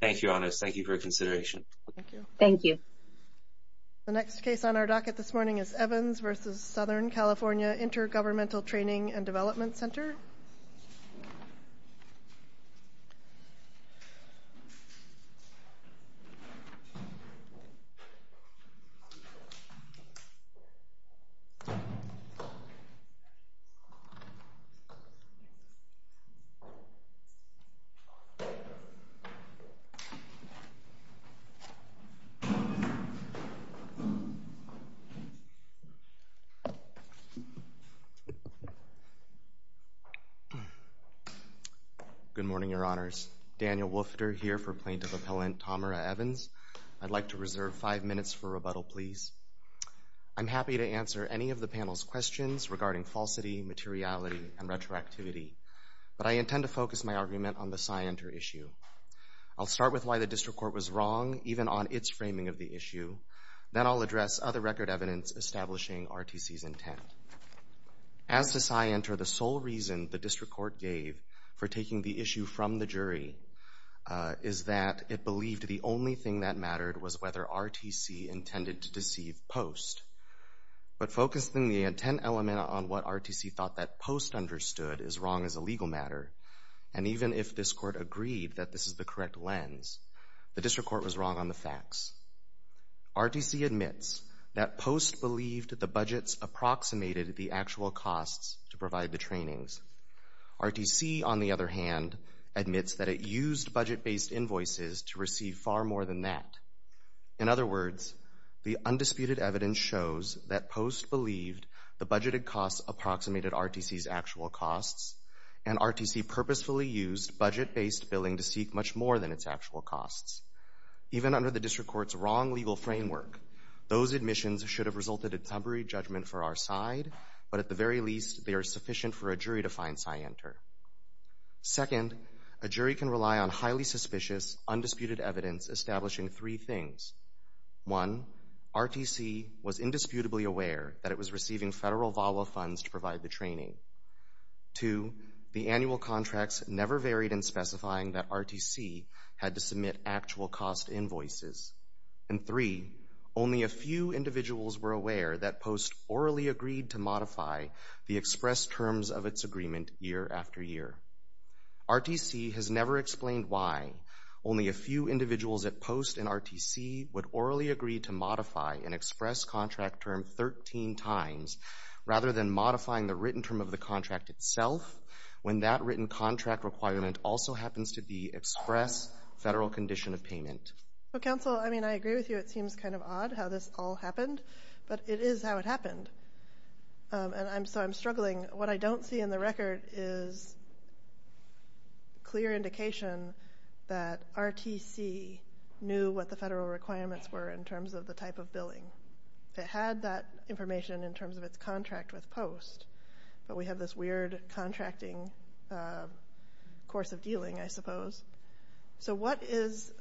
Thank you, Anas. Thank you for your consideration. Thank you. The next case on our docket this morning is Evans v. S. Cal. Intergovernmental Training & Dev. Ctr. Good morning, Your Honors. Daniel Wolfter here for Plaintiff Appellant Tamara Evans. I'd like to reserve five minutes for rebuttal, please. I'm happy to answer any of the panel's questions regarding falsity, materiality, and retroactivity, but I intend to focus my argument on the SciENter issue. I'll start with why the District Court was wrong, even on its framing of the issue. Then I'll address other record evidence establishing RTC's intent. As to SciENter, the sole reason the District Court gave for taking the issue from the jury is that it believed the only thing that mattered was whether RTC intended to deceive Post. But focusing the intent element on what RTC thought that Post understood is wrong as a legal matter, and even if this Court agreed that this is the correct lens, the District Court was wrong on the facts. RTC admits that Post believed the budgets approximated the actual costs to provide the trainings. RTC, on the other hand, admits that it used budget-based invoices to receive far more than that. In other words, the undisputed evidence shows that Post believed the budgeted RTC's actual costs, and RTC purposefully used budget-based billing to seek much more than its actual costs. Even under the District Court's wrong legal framework, those admissions should have resulted in temporary judgment for our side, but at the very least, they are sufficient for a jury to find SciENter. Second, a jury can rely on highly suspicious, undisputed evidence establishing three things. One, RTC was indisputably aware that it was receiving federal VAWA funds to provide the training. Two, the annual contracts never varied in specifying that RTC had to submit actual cost invoices. And three, only a few individuals were aware that Post orally agreed to modify the express terms of its agreement year after year. RTC has never explained why only a few individuals at Post and RTC would orally agree to modify an express contract term 13 times rather than modifying the written term of the contract itself, when that written contract requirement also happens to be express federal condition of payment. Well, counsel, I mean, I agree with you. It seems kind of odd how this all happened, but it is how it happened, and so I'm struggling. What I don't see in the record is clear indication that RTC knew what the federal requirements were in terms of the type of billing. It had that information in terms of its contract with Post, but we have this weird contracting course of dealing, I suppose. So what is,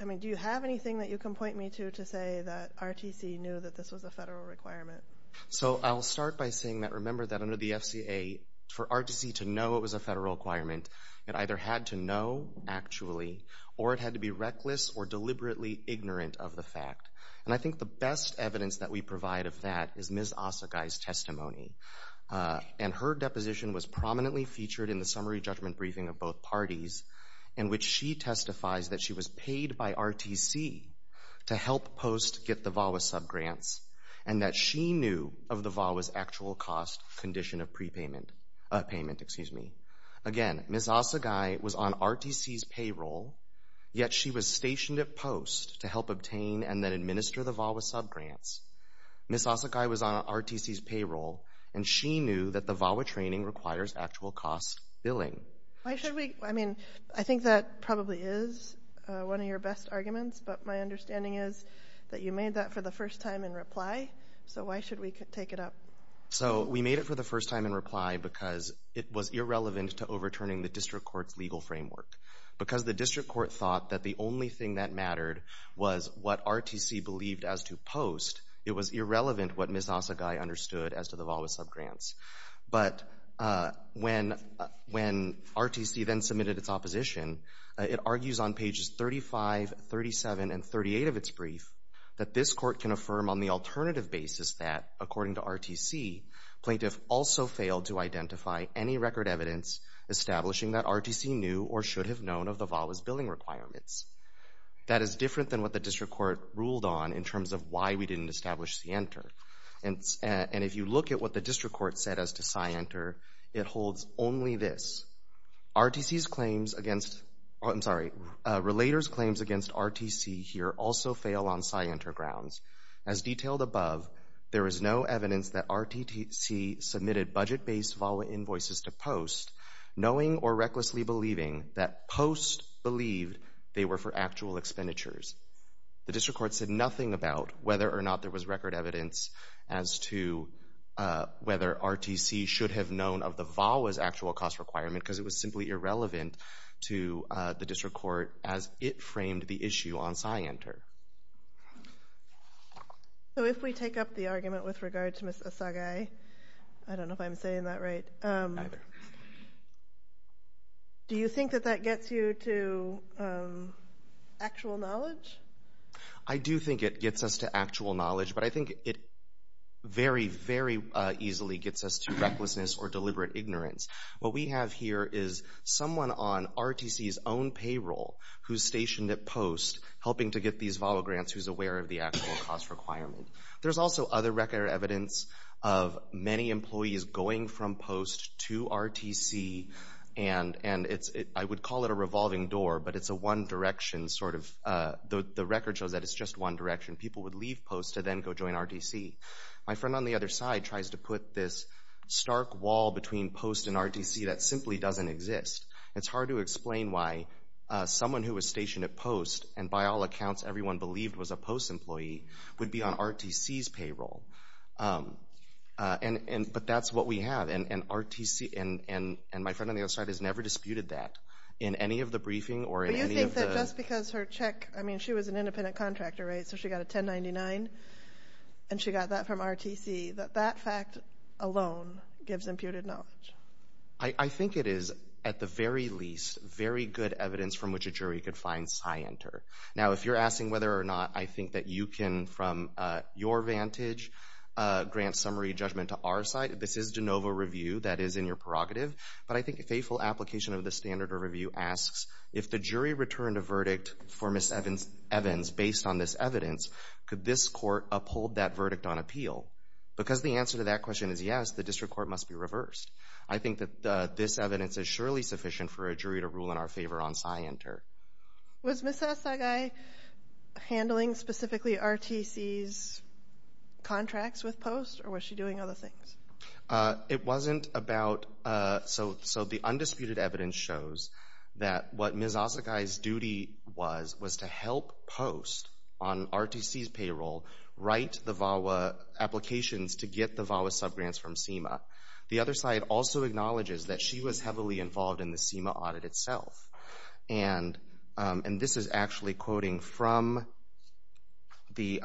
I mean, do you have anything that you can point me to to say that RTC knew that this was a federal requirement? So I'll start by saying that remember that under the FCA, for RTC to know it was a federal requirement, it either had to know actually or it had to be reckless or deliberately ignorant of the fact. And I think the best evidence that we provide of that is Ms. Asagai's testimony, and her deposition was prominently featured in the summary judgment briefing of both parties in which she testifies that she was paid by RTC to help Post get the VAWA subgrants and that she knew of the VAWA's actual cost condition of prepayment, payment, excuse me. Again, Ms. Asagai was on RTC's payroll, yet she was stationed at Post to help obtain and then administer the VAWA subgrants. Ms. Asagai was on RTC's payroll, and she knew that the VAWA training requires actual cost billing. Why should we, I mean, I think that probably is one of your best arguments, but my understanding is that you made that for the first time in reply, so why should we take it up? So we made it for the first time in reply because it was irrelevant to overturning the district court's legal framework. Because the district court thought that the only thing that mattered was what RTC believed as to Post, it was irrelevant what Ms. Asagai understood as to the VAWA subgrants. But when RTC then submitted its opposition, it argues on pages 35, 37, and 38 of its brief that this court can affirm on the alternative basis that, according to RTC, plaintiff also failed to identify any record evidence establishing that RTC knew or should have known of the VAWA's billing requirements. That is different than what the district court ruled on in terms of why we didn't establish CENTER. And if you look at what the district court said as to SCIENTER, it holds only this. RTC's claims against, I'm sorry, relator's claims against RTC here also fail on SCIENTER grounds. As detailed above, there is no evidence that RTC submitted budget-based VAWA invoices to Post, knowing or recklessly believing that Post believed they were for actual expenditures. The district court said nothing about whether or not there was record evidence as to whether RTC should have known of the VAWA's actual cost requirement because it was simply irrelevant to the district court as it framed the issue on SCIENTER. So if we take up the argument with regard to Ms. Asagai, I don't know if I'm saying that right. Do you think that that gets you to actual knowledge? I do think it gets us to actual knowledge, but I think it very, very easily gets us to RTC's own payroll who's stationed at Post, helping to get these VAWA grants who's aware of the actual cost requirement. There's also other record evidence of many employees going from Post to RTC, and I would call it a revolving door, but it's a one direction sort of, the record shows that it's just one direction. People would leave Post to then go join RTC. My friend on the other side tries to put this stark wall between Post and RTC that simply doesn't exist. It's hard to explain why someone who was stationed at Post, and by all accounts, everyone believed was a Post employee, would be on RTC's payroll. But that's what we have, and RTC, and my friend on the other side has never disputed that in any of the briefing or in any of the- But you think that just because her check, I mean, she was an independent contractor, right, so she got a 1099, and she got that from RTC, that that fact alone gives imputed knowledge? I think it is, at the very least, very good evidence from which a jury could find scienter. Now, if you're asking whether or not I think that you can, from your vantage, grant summary judgment to our side, this is de novo review that is in your prerogative, but I think a faithful application of the standard of review asks, if the jury returned a verdict for Ms. Evans based on this evidence, could this court uphold that verdict on appeal? Because the answer to that question is yes, the district court must be reversed. I think that this evidence is surely sufficient for a jury to rule in our favor on scienter. Was Ms. Asagai handling specifically RTC's contracts with Post, or was she doing other things? It wasn't about- So the undisputed evidence shows that what Ms. Asagai's duty was was to help Post on RTC's payroll write the VAWA applications to get the VAWA subgrants from SEMA. The other side also acknowledges that she was heavily involved in the SEMA audit itself. And this is actually quoting from the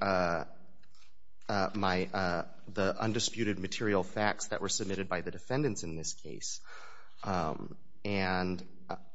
undisputed material facts that were submitted by the defendants in this case.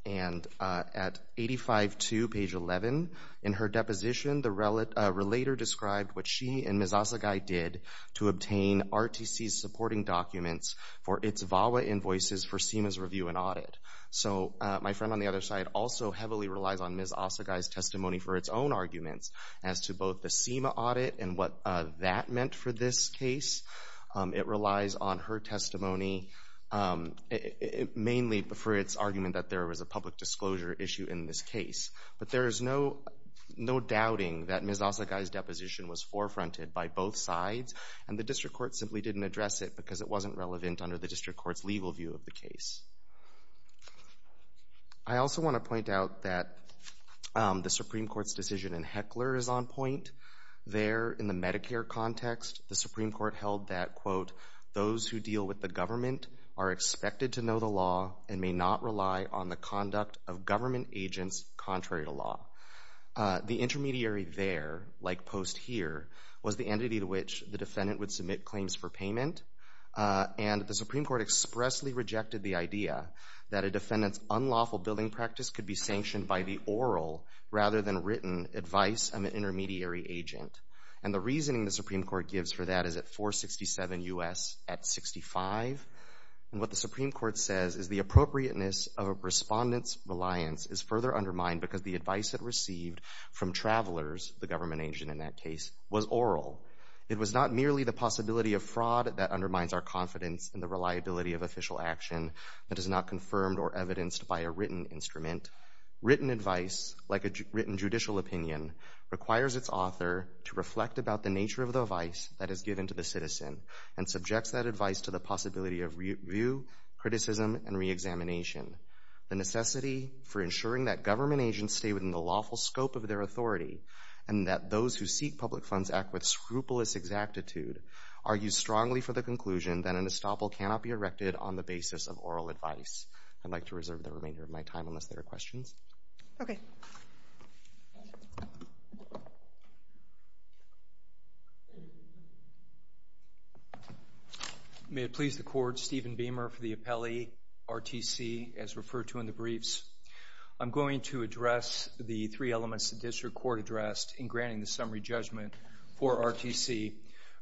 And at 85.2, page 11, in her deposition, the RTC's supporting documents for its VAWA invoices for SEMA's review and audit. So my friend on the other side also heavily relies on Ms. Asagai's testimony for its own arguments as to both the SEMA audit and what that meant for this case. It relies on her testimony mainly for its argument that there was a public disclosure issue in this case. But there is no doubting that Ms. Asagai's didn't address it because it wasn't relevant under the district court's legal view of the case. I also want to point out that the Supreme Court's decision in Heckler is on point. There, in the Medicare context, the Supreme Court held that, quote, those who deal with the government are expected to know the law and may not rely on the conduct of government agents contrary to law. The intermediary there, like Post here, was the payment. And the Supreme Court expressly rejected the idea that a defendant's unlawful billing practice could be sanctioned by the oral rather than written advice of an intermediary agent. And the reasoning the Supreme Court gives for that is at 467 U.S. at 65. And what the Supreme Court says is the appropriateness of a respondent's reliance is further undermined because the advice it received from travelers, the government agent in that case, was oral. It was not merely the that undermines our confidence in the reliability of official action that is not confirmed or evidenced by a written instrument. Written advice, like a written judicial opinion, requires its author to reflect about the nature of the advice that is given to the citizen and subjects that advice to the possibility of review, criticism, and re-examination. The necessity for ensuring that government agents stay within the lawful scope of their authority and that those who seek funds act with scrupulous exactitude, argue strongly for the conclusion that an estoppel cannot be erected on the basis of oral advice. I'd like to reserve the remainder of my time unless there are questions. May it please the Court, Stephen Beamer for the appellee, RTC, as referred to in the briefs. I'm going to address the three elements the district court addressed in granting the summary judgment for RTC.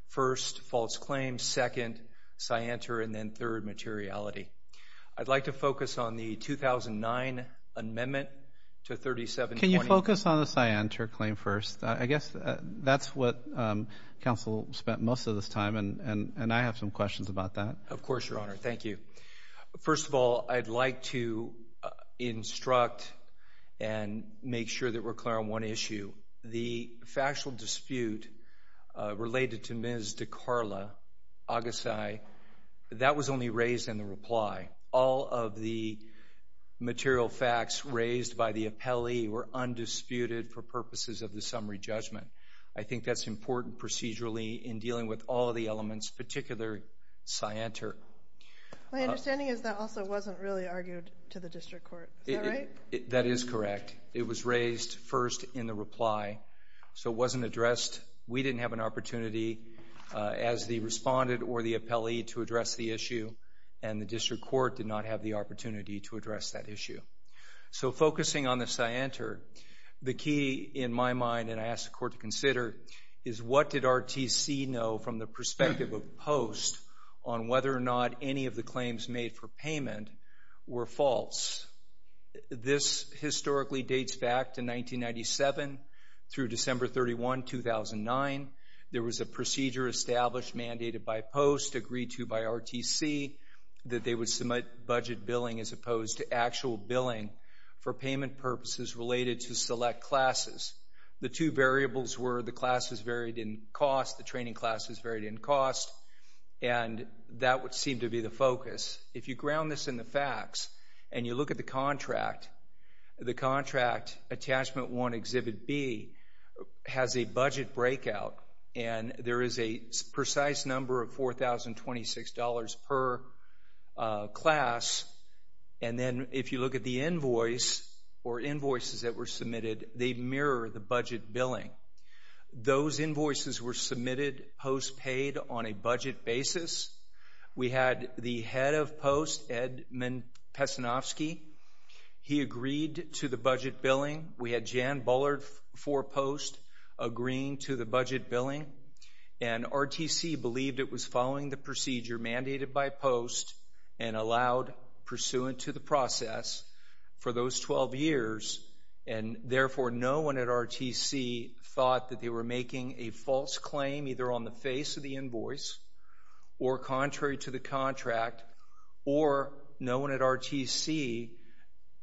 First, false claims, second, scienter, and then third, materiality. I'd like to focus on the 2009 amendment to 3720. Can you focus on the scienter claim first? I guess that's what counsel spent most of this time and I have some questions about that. Of course, your honor, thank you. First of all, I'd like to instruct and make sure that we're clear on one issue. The factual dispute related to Ms. DeCarla Agassay, that was only raised in the reply. All of the material facts raised by the appellee were undisputed for purposes of the summary judgment. I think that's important procedurally in dealing with all the elements, particularly scienter. My understanding is that also wasn't really argued to the district court, that is correct. It was raised first in the reply, so it wasn't addressed. We didn't have an opportunity as the respondent or the appellee to address the issue and the district court did not have the opportunity to address that issue. So focusing on the scienter, the key in my mind, and I ask the court to consider, is what did RTC know from the perspective of post on whether or not any of the claims made for payment were false? This historically dates back to 1997 through December 31, 2009. There was a procedure established, mandated by post, agreed to by RTC, that they would submit budget billing as opposed to actual billing for payment purposes related to select classes. The two variables were the classes varied in cost, the training classes varied in the focus. If you ground this in the facts and you look at the contract, the contract attachment one exhibit B has a budget breakout and there is a precise number of $4,026 per class and then if you look at the invoice or invoices that were submitted, they mirror the budget billing. Those invoices were submitted post paid on a budget basis. We had the head of post, Ed Men-Pesanovsky, he agreed to the budget billing. We had Jan Bullard for post agreeing to the budget billing and RTC believed it was following the procedure mandated by post and allowed pursuant to the process for those 12 years and therefore no one at RTC thought that they were making a false claim either on the face of the invoice or contrary to the contract or no one at RTC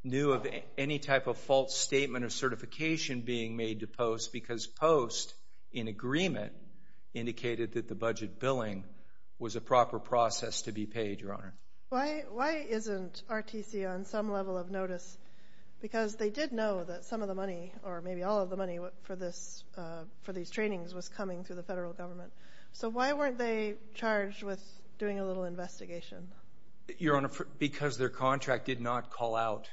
knew of any type of false statement of certification being made to post because post in agreement indicated that the budget billing was a proper process to be paid, Your Honor. Why isn't RTC on some level of notice? Because they did know that some of the money or maybe all of the money for these trainings was coming through the federal government. So why weren't they charged with doing a little investigation? Your Honor, because their contract did not call out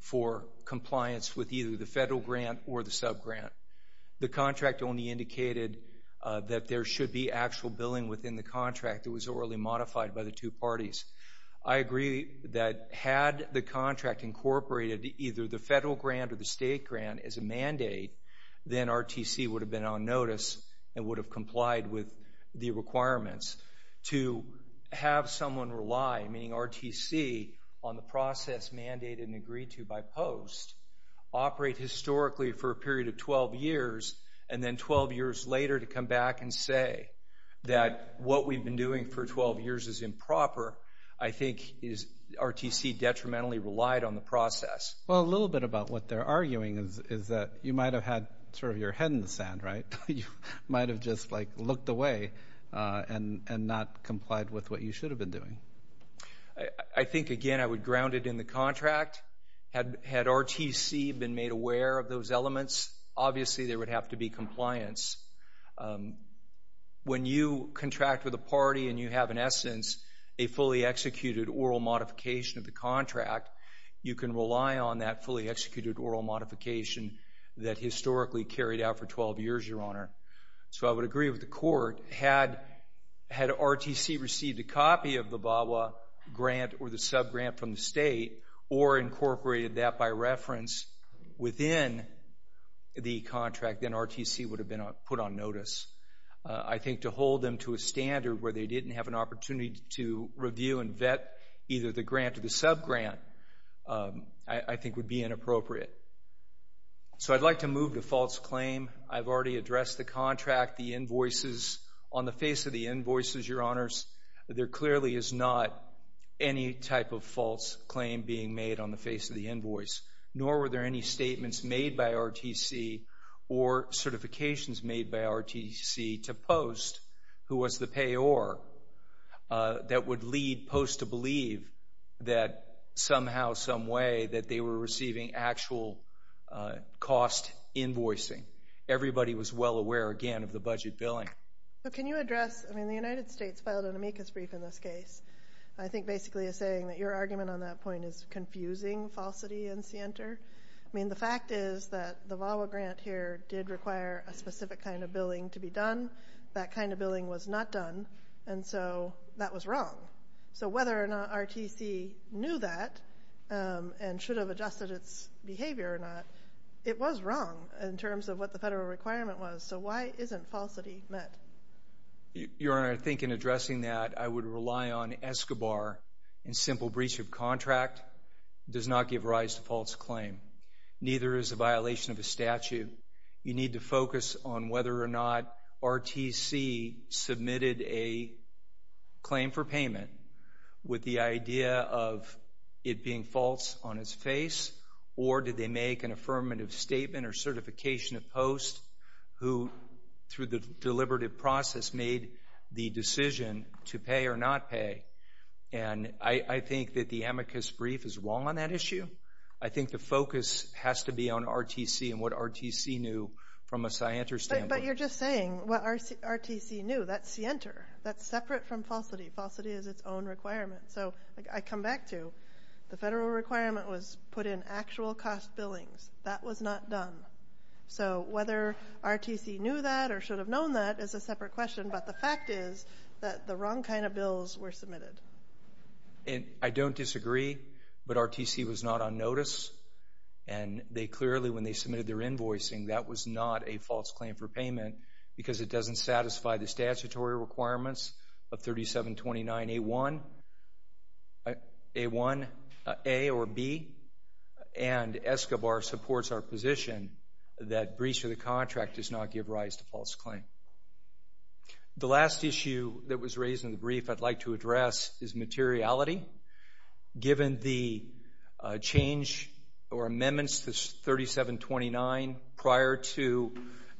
for compliance with either the federal grant or the sub-grant. The contract only indicated that there should be actual billing within the I agree that had the contract incorporated either the federal grant or the state grant as a mandate, then RTC would have been on notice and would have complied with the requirements to have someone rely, meaning RTC, on the process mandated and agreed to by post, operate historically for a period of 12 years and then 12 years later to come back and say that what we've been doing for 12 years is improper, I think RTC detrimentally relied on the process. Well, a little bit about what they're arguing is that you might have had sort of your head in the sand, right? You might have just like looked away and not complied with what you should have been doing. I think, again, I would ground it in the contract. Had RTC been made aware of those elements, obviously there would have to be compliance. When you contract with a party and you have, in essence, a fully executed oral modification of the contract, you can rely on that fully executed oral modification that historically carried out for 12 years, Your Honor. So I would agree with the court. Had RTC received a copy of the VAWA grant or the sub-grant from the state or incorporated that by reference within the contract, then RTC would have been put on notice. I think to hold them to a standard where they didn't have an opportunity to review and vet either the grant or the sub-grant, I think would be inappropriate. So I'd like to move to false claim. I've already addressed the contract, the invoices. On the face of the invoices, Your Honors, there clearly is not any type of false claim being made on the face of the invoice, nor were there any statements made by RTC or certifications made by RTC to Post, who was the payor, that would lead Post to believe that somehow, some way, that they were receiving actual cost invoicing. Everybody was well aware, again, of the budget billing. But can you address, I mean, the United States filed an amicus brief in this case. I think basically it's saying that your argument on that point is confusing falsity and scienter. I mean, the fact is that the VAWA grant here did require a specific kind of billing to be done. That kind of billing was not done. And so that was wrong. So whether or not RTC knew that and should have adjusted its behavior or not, it was wrong in terms of what the federal requirement was. So why isn't falsity met? Your Honor, I think in addressing that, I would rely on Escobar. A simple breach of contract does not give rise to false claim. Neither is a violation of a statute. You need to focus on whether or not RTC submitted a claim for payment with the idea of it being false on its face, or did they make an affirmative statement or certification of Post, who, through the deliberative process, made the decision to pay or not pay. And I think that the amicus brief is wrong on that issue. I think the focus has to be on RTC and what RTC knew from a scienter standpoint. But you're just saying what RTC knew. That's scienter. That's separate from falsity. Falsity is its own requirement. So I come back to the federal requirement was put in actual cost billings. That was not done. So whether RTC knew that or should have known that is a separate question. But the fact is that the wrong kind of bills were submitted. And I don't disagree, but RTC was not on notice. And they clearly, when they submitted their invoicing, that was not a false claim for payment because it doesn't satisfy the statutory requirements of 3729A1, A1A or B. And ESCOBAR supports our position that breach of the contract does not give rise to false claim. The last issue that was raised in the brief I'd like to address is materiality. Given the change or amendments to 3729 prior to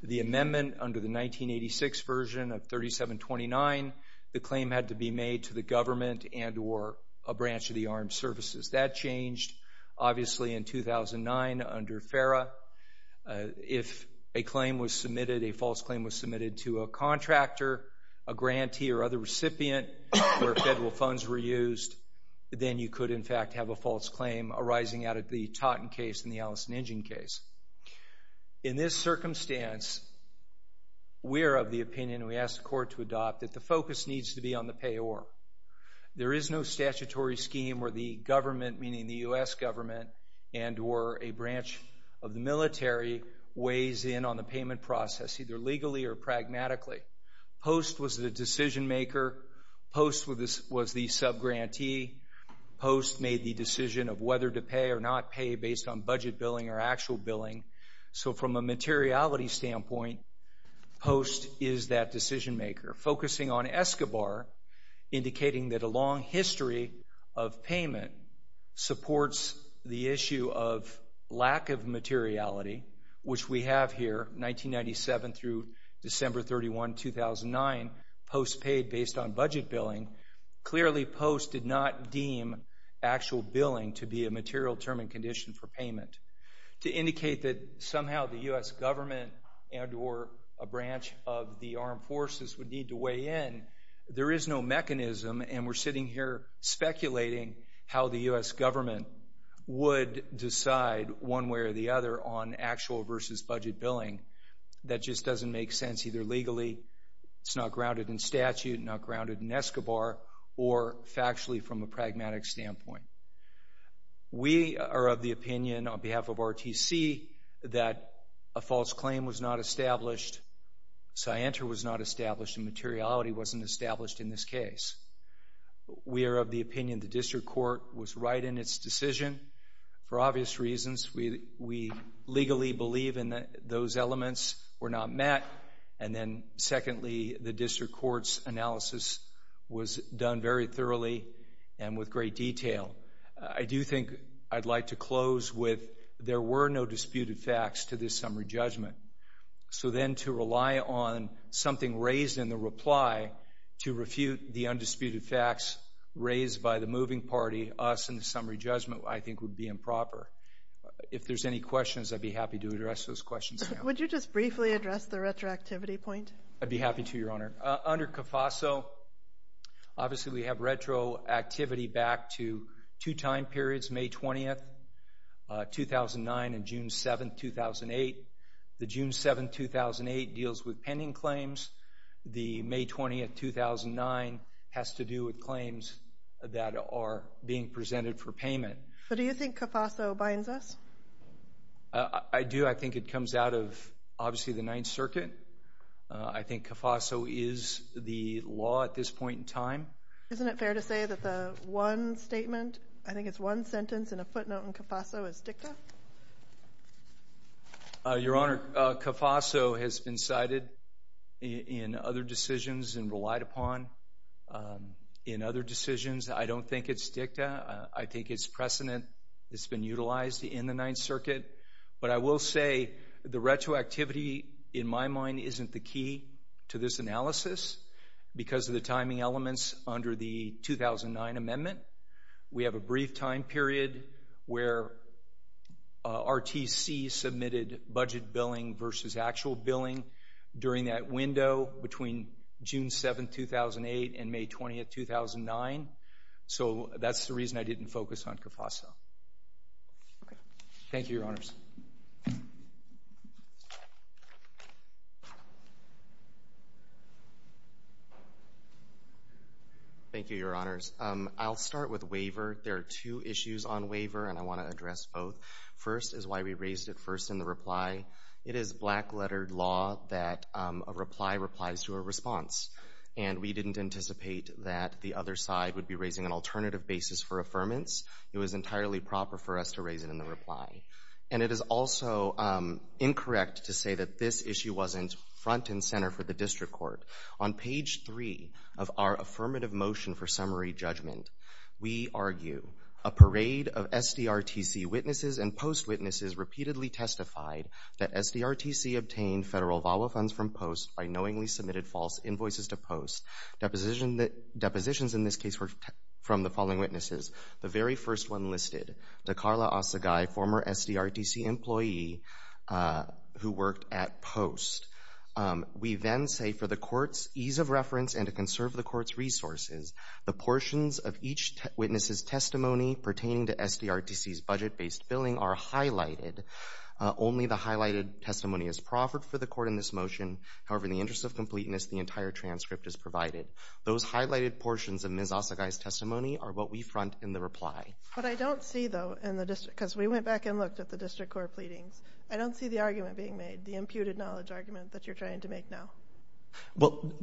the amendment under the 1986 version of 3729, the claim had to be made to the government and or a branch of the armed services. That changed, obviously, in 2009 under FERA. If a claim was submitted, a false claim was submitted to a contractor, a grantee or other recipient where federal funds were used, then you could, in fact, have a false claim arising out of the Totten case and the Allison Injun case. In this circumstance, we are of the opinion, and we ask the court to adopt, that the focus needs to be on the payor. There is no statutory scheme where the government, meaning the U.S. government and or a branch of the military, weighs in on the payment process, either legally or pragmatically. Post was the decision maker. Post was the subgrantee. Post made the decision of whether to pay or not pay based on billing. So from a materiality standpoint, Post is that decision maker. Focusing on Escobar, indicating that a long history of payment supports the issue of lack of materiality, which we have here, 1997 through December 31, 2009, Post paid based on budget billing, clearly Post did not deem actual billing to be a material term and condition for payment. To indicate that somehow the U.S. government and or a branch of the armed forces would need to weigh in, there is no mechanism, and we're sitting here speculating how the U.S. government would decide one way or the other on actual versus budget billing. That just doesn't make sense either legally, it's not grounded in statute, not grounded in Escobar, or factually from a pragmatic standpoint. We are of the opinion on behalf of RTC that a false claim was not established, Scienter was not established, and materiality wasn't established in this case. We are of the opinion the district court was right in its decision for obvious reasons. We legally believe in that those elements were not met, and then secondly, the district court's analysis was done very thoroughly and with great detail. I do think I'd like to close with there were no disputed facts to this summary judgment, so then to rely on something raised in the reply to refute the undisputed facts raised by the moving party, us in the summary judgment, I think would be improper. If there's any questions, I'd be happy to address those questions. Would you just briefly address the retroactivity point? I'd be happy to, Your Honor. Under CAFASO, obviously we have retroactivity back to two time periods, May 20th, 2009 and June 7th, 2008. The June 7th, 2008 deals with pending claims, the May 20th, 2009 has to do with claims that are being presented for payment. So do you think CAFASO binds us? I do. I think it comes out of, obviously, the Ninth Circuit. I think CAFASO is the law at this point in time. Isn't it fair to say that the one statement, I think it's one sentence and a footnote in CAFASO is dicta? Your Honor, CAFASO has been cited in other decisions and relied upon in other decisions. I don't think it's dicta. I think it's precedent that's been utilized in the Ninth Circuit. But I will say the retroactivity in my mind isn't the key to this analysis because of the timing elements under the 2009 amendment. We have a brief time period where RTC submitted budget billing versus actual billing during that window between June 7th, 2008 and May 20th, 2009. So that's the reason I didn't focus on CAFASO. Thank you, Your Honors. Thank you, Your Honors. I'll start with waiver. There are two issues on waiver, and I want to address both. First is why we raised it first in the reply. It is black-lettered law that a reply replies to a response, and we didn't anticipate that the other side would be raising an alternative basis for affirmance. It was entirely proper for us to reply. And it is also incorrect to say that this issue wasn't front and center for the District Court. On page 3 of our affirmative motion for summary judgment, we argue, a parade of SDRTC witnesses and post-witnesses repeatedly testified that SDRTC obtained federal VAWA funds from post by knowingly submitted false invoices to post. Depositions in this case were from the following SDRTC employee who worked at post. We then say, for the Court's ease of reference and to conserve the Court's resources, the portions of each witness's testimony pertaining to SDRTC's budget-based billing are highlighted. Only the highlighted testimony is proffered for the Court in this motion. However, in the interest of completeness, the entire transcript is provided. Those highlighted portions of Ms. Asagai's testimony are what we front in the reply. But I don't see, though, in the district, because we went back and looked at the District Court pleadings, I don't see the argument being made, the imputed knowledge argument that you're trying to make now. Well,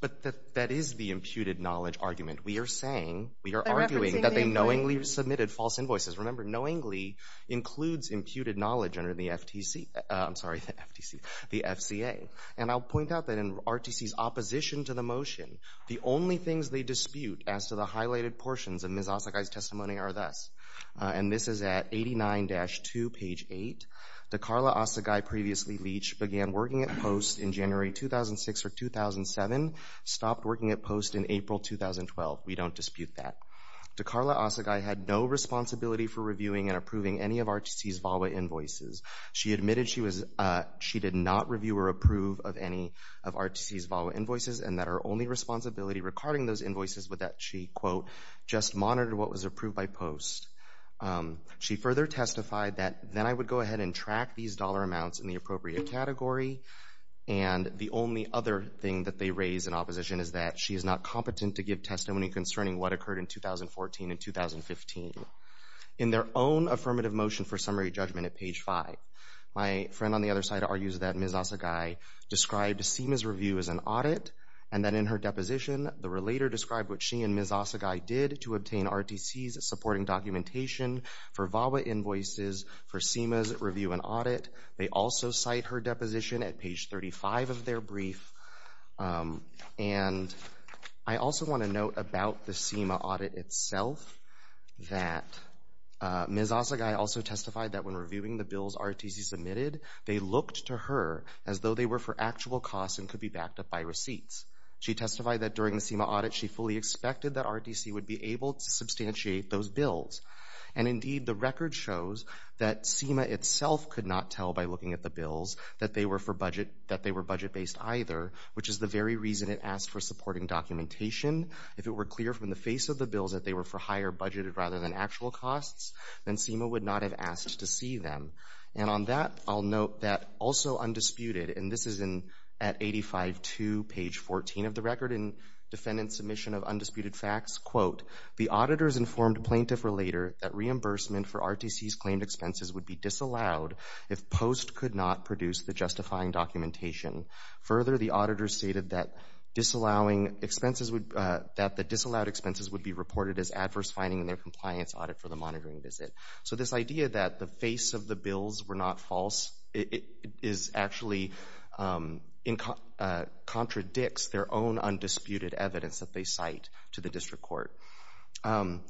but that is the imputed knowledge argument. We are saying, we are arguing that they knowingly submitted false invoices. Remember, knowingly includes imputed knowledge under the FTC, I'm sorry, the FTC, the FCA. And I'll point out that in RTC's opposition to the motion, the only things they dispute as to the highlighted portions of Ms. Asagai's testimony are this. And this is at 89-2, page 8. Dakarla Asagai, previously Leach, began working at POST in January 2006 or 2007, stopped working at POST in April 2012. We don't dispute that. Dakarla Asagai had no responsibility for reviewing and approving any of RTC's VAWA invoices. She admitted she did not review or approve of any of RTC's VAWA invoices and that only responsibility regarding those invoices was that she, quote, just monitored what was approved by POST. She further testified that, then I would go ahead and track these dollar amounts in the appropriate category. And the only other thing that they raise in opposition is that she is not competent to give testimony concerning what occurred in 2014 and 2015. In their own affirmative motion for summary judgment at page 5, my friend on the other side argues that Ms. Asagai described SEMA's review as an audit and that in her deposition the relator described what she and Ms. Asagai did to obtain RTC's supporting documentation for VAWA invoices for SEMA's review and audit. They also cite her deposition at page 35 of their brief. And I also want to note about the SEMA audit itself that Ms. Asagai also testified that when reviewing the bills RTC submitted, they looked to her as though they were for actual costs and could be backed up by receipts. She testified that during the SEMA audit she fully expected that RTC would be able to substantiate those bills. And indeed the record shows that SEMA itself could not tell by looking at the bills that they were for budget, that they were budget-based either, which is the very reason it asked for supporting documentation. If it were clear from the face of the bills that they were higher budgeted rather than actual costs, then SEMA would not have asked to see them. And on that I'll note that also undisputed, and this is in at 85.2 page 14 of the record in defendant's submission of undisputed facts, quote, the auditors informed plaintiff relator that reimbursement for RTC's claimed expenses would be disallowed if post could not produce the justifying documentation. Further, the auditor stated that disallowing expenses would, that the disallowed expenses would be reported as adverse finding in their compliance audit for the monitoring visit. So this idea that the face of the bills were not false, it is actually, contradicts their own undisputed evidence that they cite to the district court. On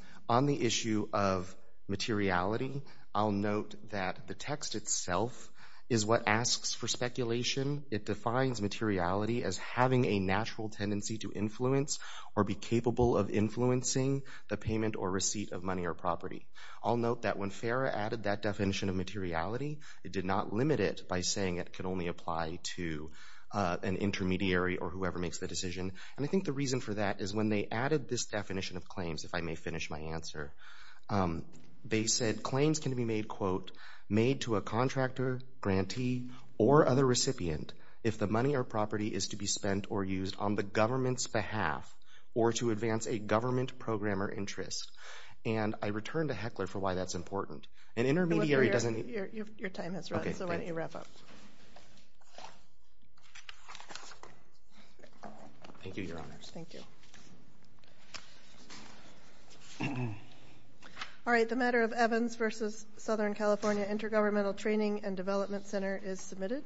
the issue of materiality, I'll note that the text itself is what asks for speculation. It defines materiality as having a natural tendency to influence or be capable of influencing the payment or receipt of money or property. I'll note that when FARA added that definition of materiality, it did not limit it by saying it could only apply to an intermediary or whoever makes the decision. And I think the reason for that is when they added this definition of claims, if I may finish my answer, they said claims can be made, quote, made to a contractor, grantee, or other recipient if the money or spending is to be spent or used on the government's behalf or to advance a government program or interest. And I return to Heckler for why that's important. An intermediary doesn't... Your time has run, so why don't you wrap up. Thank you, Your Honors. Thank you. All right, the matter of Evans versus Southern California Intergovernmental Training and Development Center is submitted.